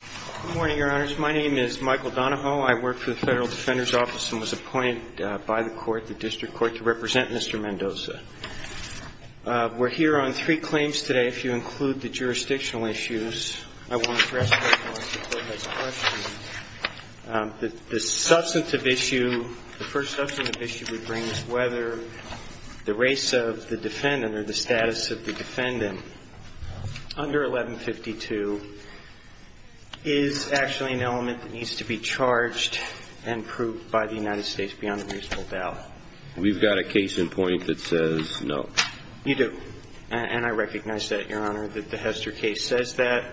Good morning, Your Honors. My name is Michael Donahoe. I work for the Federal Defender's Office and was appointed by the court, the District Court, to represent Mr. Mendoza. We're here on three claims today, if you include the jurisdictional issues. I wanted to ask you a couple of questions. The substantive issue, the first substantive issue we bring is whether the race of the defendant or the status of the defendant under 1152 is actually an element that needs to be charged and proved by the United States beyond a reasonable doubt. We've got a case in point that says no. You do. And I recognize that, Your Honor, that the Hester case says that.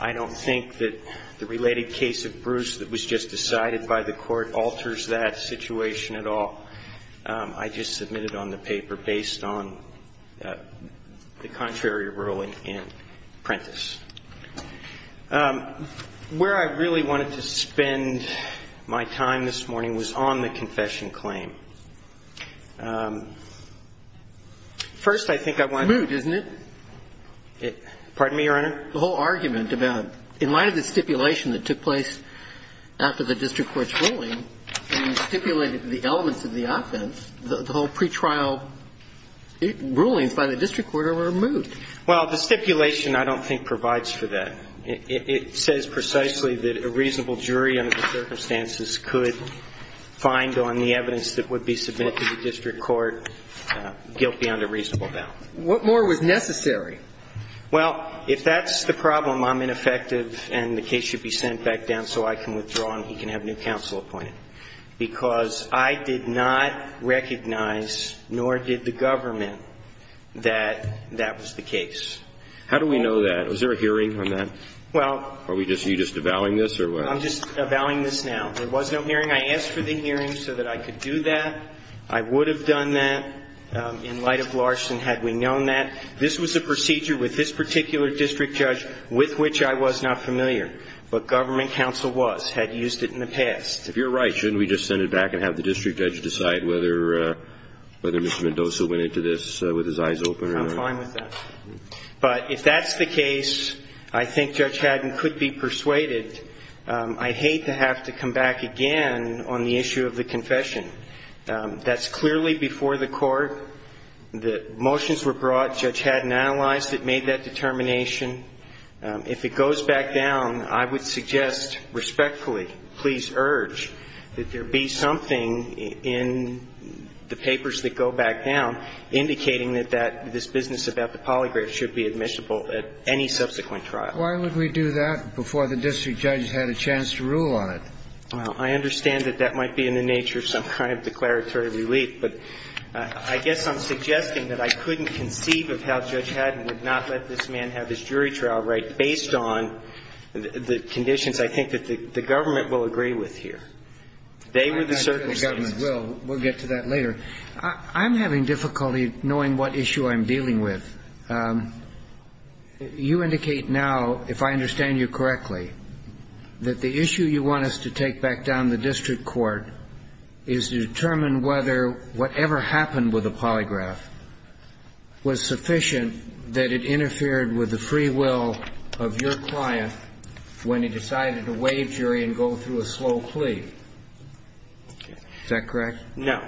I don't think that the related case of Bruce that was just decided by the court alters that situation at all. I just submitted on the paper based on the contrary ruling in Prentiss. Where I really wanted to spend my time this morning was on the confession claim. First, I think I want to ---- Moot, isn't it? Pardon me, Your Honor? The whole argument about in light of the stipulation that took place after the district court's ruling and stipulated the elements of the offense, the whole pretrial rulings by the district court are removed. Well, the stipulation I don't think provides for that. It says precisely that a reasonable jury under the circumstances could find on the evidence that would be submitted to the district court guilty under reasonable doubt. What more was necessary? Well, if that's the problem, I'm ineffective and the case should be sent back down so I can withdraw and he can have new counsel appointed. Because I did not recognize, nor did the government, that that was the case. How do we know that? Was there a hearing on that? Well ---- Are you just avowing this or what? I'm just avowing this now. There was no hearing. I asked for the hearing so that I could do that. I would have done that in light of Larson had we known that. This was a procedure with this particular district judge with which I was not familiar. But government counsel was, had used it in the past. If you're right, shouldn't we just send it back and have the district judge decide whether Mr. Mendoza went into this with his eyes open or not? I'm fine with that. But if that's the case, I think Judge Haddon could be persuaded. I hate to have to come back again on the issue of the confession. That's clearly before the Court. The motions were brought. Judge Haddon analyzed it, made that determination. If it goes back down, I would suggest respectfully, please urge that there be something in the papers that go back down indicating that that, this business about the polygraph should be admissible at any subsequent trial. Why would we do that before the district judge had a chance to rule on it? Well, I understand that that might be in the nature of some kind of declaratory relief, but I guess I'm suggesting that I couldn't conceive of how Judge Haddon would not let this man have his jury trial right based on the conditions I think that the government will agree with here. They were the circumstances. I'm not sure the government will. We'll get to that later. I'm having difficulty knowing what issue I'm dealing with. You indicate now, if I understand you correctly, that the issue you want us to take back down the district court is to determine whether whatever happened with the polygraph was sufficient that it interfered with the free will of your client when he decided to waive jury and go through a slow plea. Is that correct? No.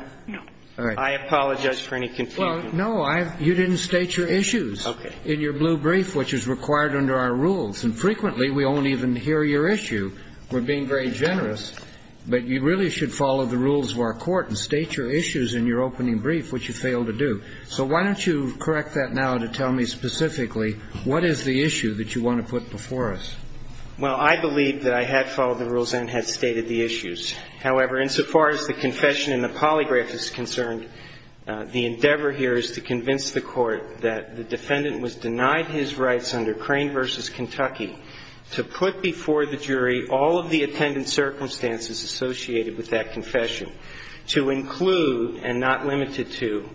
All right. I apologize for any confusion. No, you didn't state your issues in your blue brief, which is required under our rules. And frequently we won't even hear your issue. We're being very generous. But you really should follow the rules of our court and state your issues in your opening brief, which you failed to do. So why don't you correct that now to tell me specifically what is the issue that you want to put before us? However, insofar as the confession and the polygraph is concerned, the endeavor here is to convince the court that the defendant was denied his rights under Crane v. Kentucky to put before the jury all of the attendant circumstances associated with that confession, to include and not limited to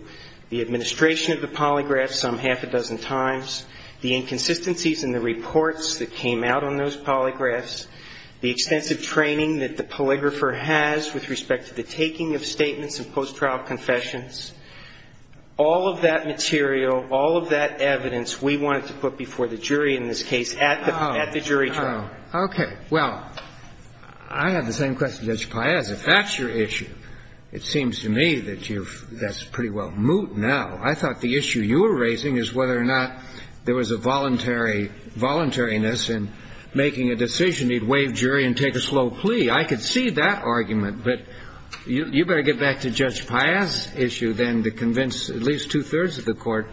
the administration of the polygraph some half a dozen times, the inconsistencies in the reports that came out on those statements and post-trial confessions, all of that material, all of that evidence we wanted to put before the jury in this case at the jury trial. Okay. Well, I have the same question, Judge Paez. If that's your issue, it seems to me that that's pretty well moot now. I thought the issue you were raising is whether or not there was a voluntariness in making a decision. He'd waive jury and take a slow plea. I could see that argument, but you better get back to Judge Paez's issue then to convince at least two-thirds of the court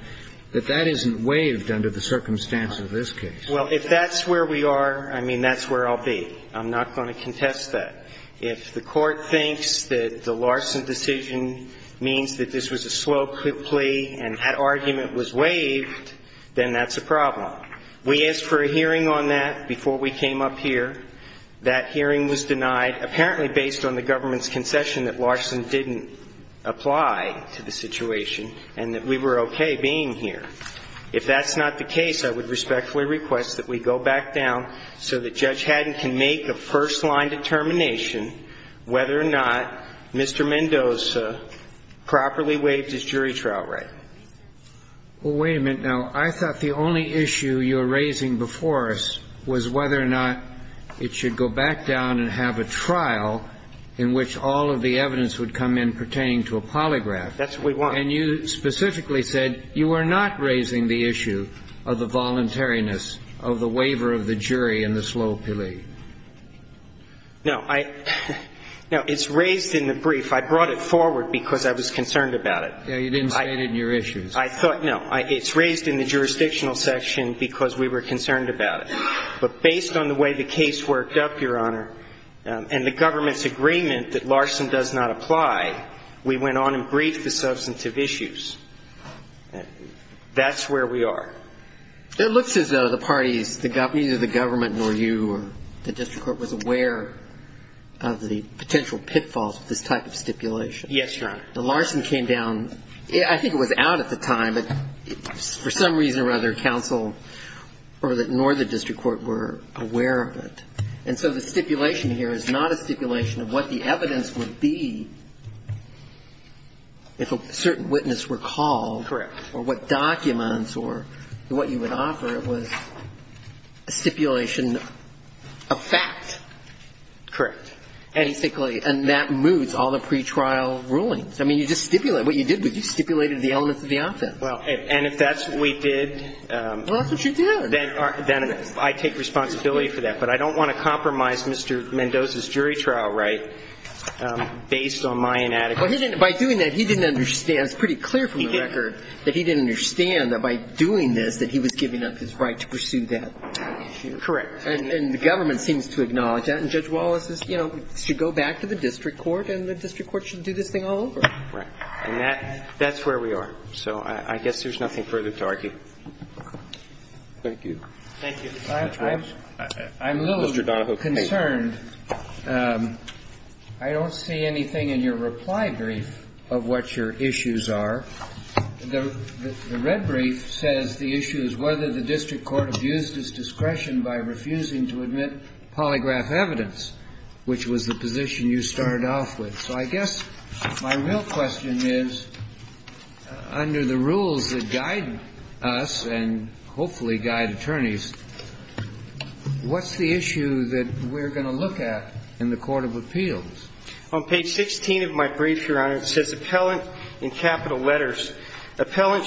that that isn't waived under the circumstance of this case. Well, if that's where we are, I mean, that's where I'll be. I'm not going to contest that. If the court thinks that the larceny decision means that this was a slow plea and that argument was waived, then that's a problem. We asked for a hearing on that before we came up here. That hearing was denied, apparently based on the government's concession that larceny didn't apply to the situation and that we were okay being here. If that's not the case, I would respectfully request that we go back down so that Judge Haddon can make a first-line determination whether or not Mr. Mendoza properly waived his jury trial right. Well, wait a minute now. I thought the only issue you were raising before us was whether or not it should go back down and have a trial in which all of the evidence would come in pertaining to a polygraph. That's what we want. And you specifically said you were not raising the issue of the voluntariness of the waiver of the jury in the slow plea. No. No, it's raised in the brief. I brought it forward because I was concerned about it. You didn't state it in your issues. I thought, no, it's raised in the jurisdictional section because we were concerned about it. But based on the way the case worked up, Your Honor, and the government's agreement that larceny does not apply, we went on and briefed the substantive issues. That's where we are. It looks as though the parties, neither the government nor you or the district court was aware of the potential pitfalls of this type of stipulation. Yes, Your Honor. The larceny came down. I think it was out at the time. But for some reason or other, counsel nor the district court were aware of it. And so the stipulation here is not a stipulation of what the evidence would be if a certain witness were called. Correct. Or what documents or what you would offer. It was a stipulation of fact. Correct. Basically. And that moves all the pretrial rulings. I mean, you just stipulate. What you did was you stipulated the elements of the offense. Well, and if that's what we did. Well, that's what you did. Then I take responsibility for that. But I don't want to compromise Mr. Mendoza's jury trial right based on my inadequacy. By doing that, he didn't understand. It's pretty clear from the record that he didn't understand that by doing this, that he was giving up his right to pursue that issue. Correct. And the government seems to acknowledge that. And Judge Wallace says, you know, we should go back to the district court and the district court should do this thing all over again. Right. And that's where we are. So I guess there's nothing further to argue. Thank you. Thank you. Mr. Donahoe. I'm a little concerned. I don't see anything in your reply brief of what your issues are. The red brief says the issue is whether the district court abused its discretion by refusing to admit polygraph evidence, which was the position you started off with. So I guess my real question is, under the rules that guide us and hopefully guide attorneys, what's the issue that we're going to look at in the court of appeals? On page 16 of my brief, Your Honor, it says, Appellant, in capital letters, Okay. Now,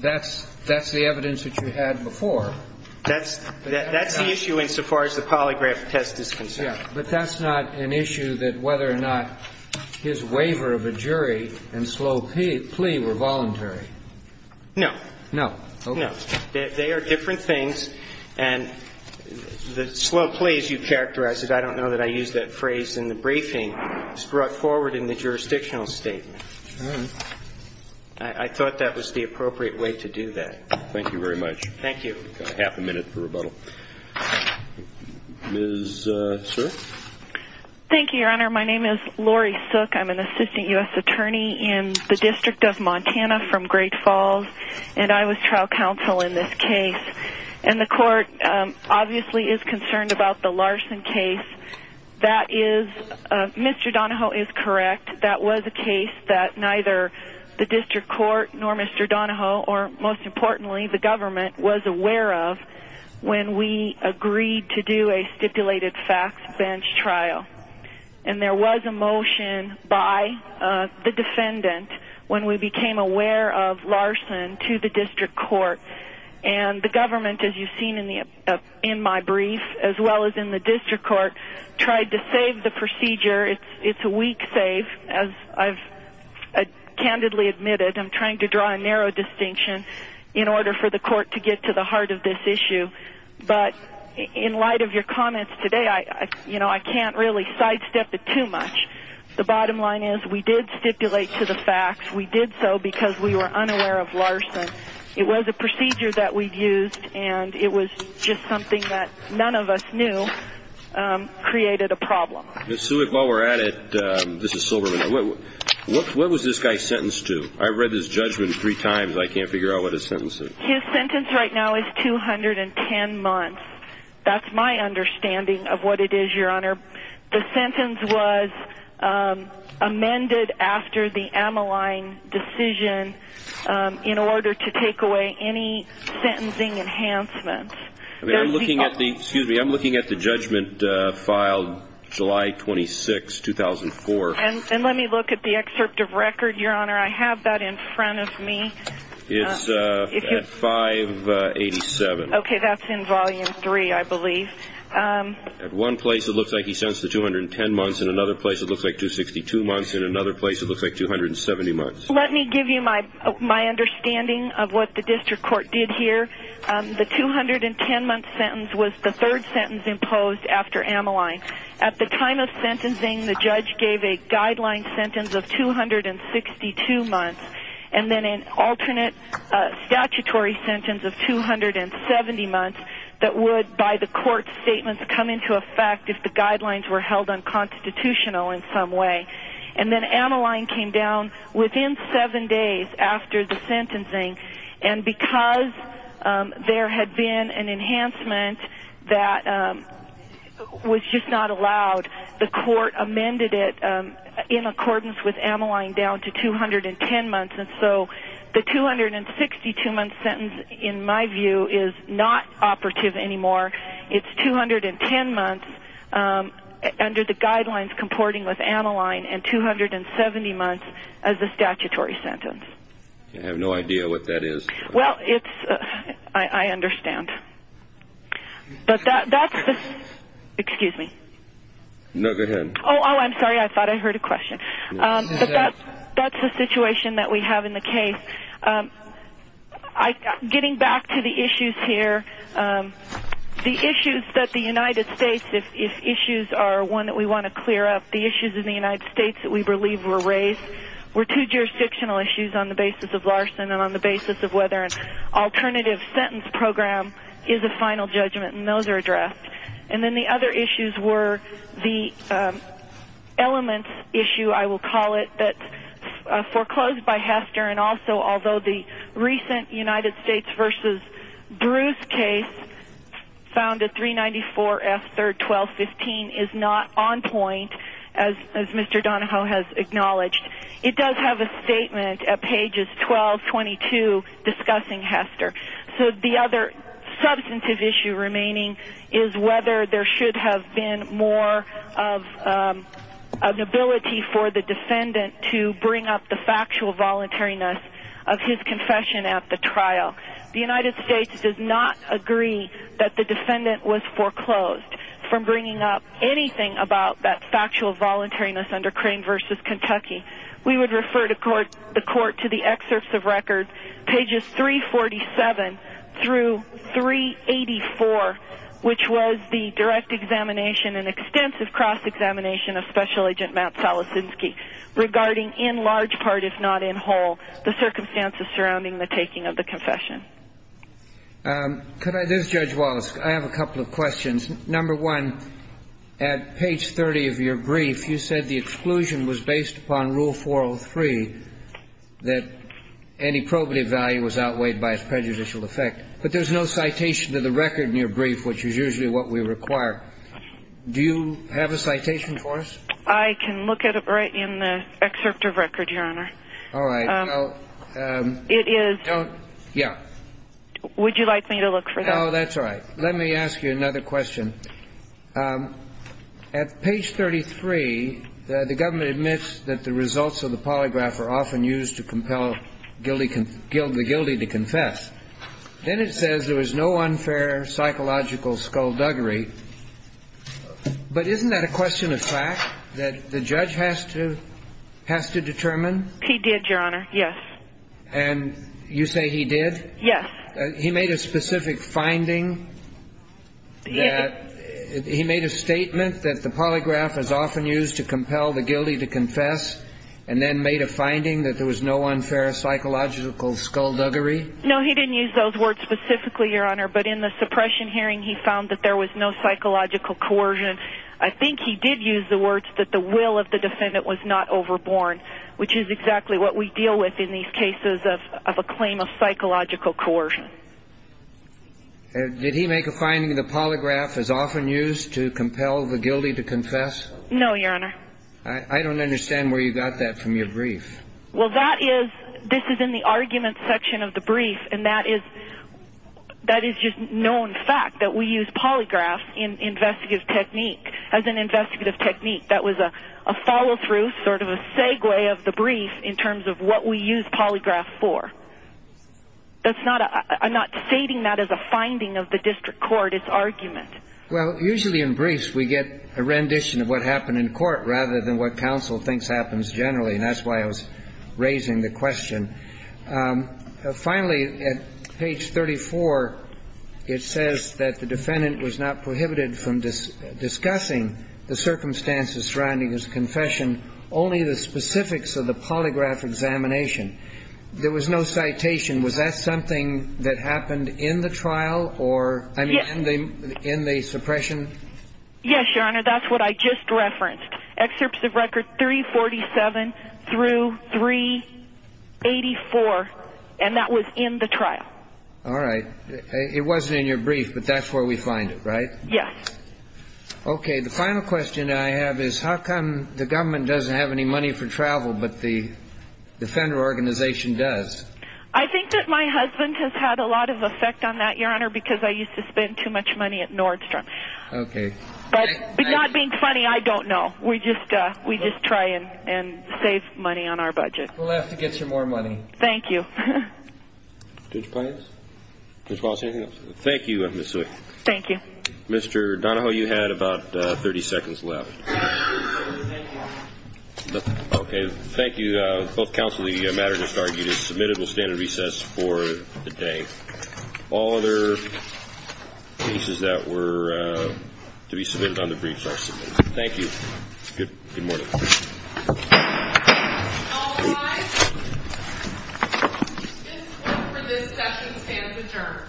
that's the evidence that you had before. That's the issue insofar as the polygraph test is concerned. Yeah. But that's not an issue that whether or not his waiver of a jury and slow plea were No. No. Okay. No. They are different things, and the slow plea, as you characterized it, I don't know that I used that phrase in the briefing, was brought forward in the jurisdictional statement. All right. I thought that was the appropriate way to do that. Thank you very much. Thank you. We've got half a minute for rebuttal. Ms. Searff. Thank you, Your Honor. My name is Lori Searff. I'm an assistant U.S. attorney in the District of Montana from Great Falls, and I was trial counsel in this case. And the court obviously is concerned about the Larson case. That is Mr. Donahoe is correct. That was a case that neither the district court nor Mr. Donahoe, or most importantly the government, was aware of when we agreed to do a stipulated fax bench trial. And there was a motion by the defendant when we became aware of Larson to the district court. And the government, as you've seen in my brief, as well as in the district court, tried to save the procedure. It's a weak save, as I've candidly admitted. I'm trying to draw a narrow distinction in order for the court to get to the heart of this issue. But in light of your comments today, I can't really sidestep it too much. The bottom line is we did stipulate to the fax. We did so because we were unaware of Larson. It was a procedure that we used, and it was just something that none of us knew created a problem. Ms. Searff, while we're at it, this is Silverman. What was this guy sentenced to? I read his judgment three times. I can't figure out what his sentence is. His sentence right now is 210 months. That's my understanding of what it is, Your Honor. The sentence was amended after the Ammaline decision in order to take away any sentencing enhancements. I'm looking at the judgment filed July 26, 2004. And let me look at the excerpt of record, Your Honor. I have that in front of me. It's at 587. Okay, that's in Volume 3, I believe. At one place, it looks like he's sentenced to 210 months. At another place, it looks like 262 months. At another place, it looks like 270 months. Let me give you my understanding of what the district court did here. The 210-month sentence was the third sentence imposed after Ammaline. At the time of sentencing, the judge gave a guideline sentence of 262 months. And then an alternate statutory sentence of 270 months that would, by the court's statements, come into effect if the guidelines were held unconstitutional in some way. And then Ammaline came down within seven days after the sentencing. And because there had been an enhancement that was just not allowed, the court amended it in accordance with Ammaline down to 210 months. And so the 262-month sentence, in my view, is not operative anymore. It's 210 months under the guidelines comporting with Ammaline and 270 months as a statutory sentence. I have no idea what that is. Well, it's – I understand. But that's the – excuse me. No, go ahead. Oh, I'm sorry. I thought I heard a question. But that's the situation that we have in the case. Getting back to the issues here, the issues that the United States – if issues are one that we want to clear up, the issues in the United States that we believe were raised were two jurisdictional issues on the basis of Larson and on the basis of whether an alternative sentence program is a final judgment, and those are addressed. And then the other issues were the elements issue, I will call it, that foreclosed by Hester and also although the recent United States v. Bruce case found that 394F3-1215 is not on point, as Mr. Donahoe has acknowledged. It does have a statement at pages 12, 22 discussing Hester. So the other substantive issue remaining is whether there should have been more of an ability for the defendant to bring up the factual voluntariness of his confession at the trial. The United States does not agree that the defendant was foreclosed from bringing up anything about that factual voluntariness under Crane v. Kentucky. We would refer the court to the excerpts of records, pages 347 through 384, which was the direct examination and extensive cross-examination of Special Agent Matt Solosinski, regarding in large part, if not in whole, the circumstances surrounding the taking of the confession. This is Judge Wallace. I have a couple of questions. Number one, at page 30 of your brief, you said the exclusion was based upon Rule 403, that any probative value was outweighed by its prejudicial effect. But there's no citation to the record in your brief, which is usually what we require. Do you have a citation for us? I can look at it right in the excerpt of record, Your Honor. All right. It is. Yeah. Would you like me to look for that? No, that's all right. Let me ask you another question. At page 33, the government admits that the results of the polygraph are often used to compel the guilty to confess. Then it says there was no unfair psychological skullduggery. But isn't that a question of fact that the judge has to determine? He did, Your Honor, yes. And you say he did? Yes. He made a specific finding that he made a statement that the polygraph is often used to compel the guilty to confess, and then made a finding that there was no unfair psychological skullduggery? No, he didn't use those words specifically, Your Honor. But in the suppression hearing, he found that there was no psychological coercion. I think he did use the words that the will of the defendant was not overborne, which is exactly what we deal with in these cases of a claim of psychological coercion. Did he make a finding the polygraph is often used to compel the guilty to confess? No, Your Honor. I don't understand where you got that from your brief. Well, this is in the argument section of the brief, and that is just known fact that we use polygraph as an investigative technique. That was a follow-through, sort of a segue of the brief in terms of what we use polygraph for. I'm not stating that as a finding of the district court. It's argument. Well, usually in briefs we get a rendition of what happened in court rather than what counsel thinks happens generally. And that's why I was raising the question. Finally, at page 34, it says that the defendant was not prohibited from discussing the circumstances surrounding his confession, only the specifics of the polygraph examination. There was no citation. Was that something that happened in the trial or in the suppression? Yes, Your Honor. That's what I just referenced. Excerpts of record 347 through 384, and that was in the trial. All right. It wasn't in your brief, but that's where we find it, right? Yes. Okay. The final question I have is how come the government doesn't have any money for travel but the defender organization does? I think that my husband has had a lot of effect on that, Your Honor, because I used to spend too much money at Nordstrom. Okay. But not being funny, I don't know. We just try and save money on our budget. We'll have to get you more money. Thank you. Judge Plains? Judge Wallace, anything else? Thank you, Ms. Wick. Thank you. Mr. Donahoe, you had about 30 seconds left. Okay. Thank you. Both counsel, the matter just argued is submitted. We'll stand at recess for the day. All other cases that were to be submitted on the briefs are submitted. Thank you. Good morning. All rise. This court for this session stands adjourned.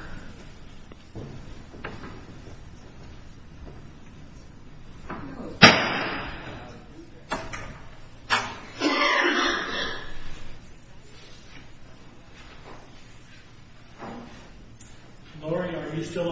Lori, are you still online?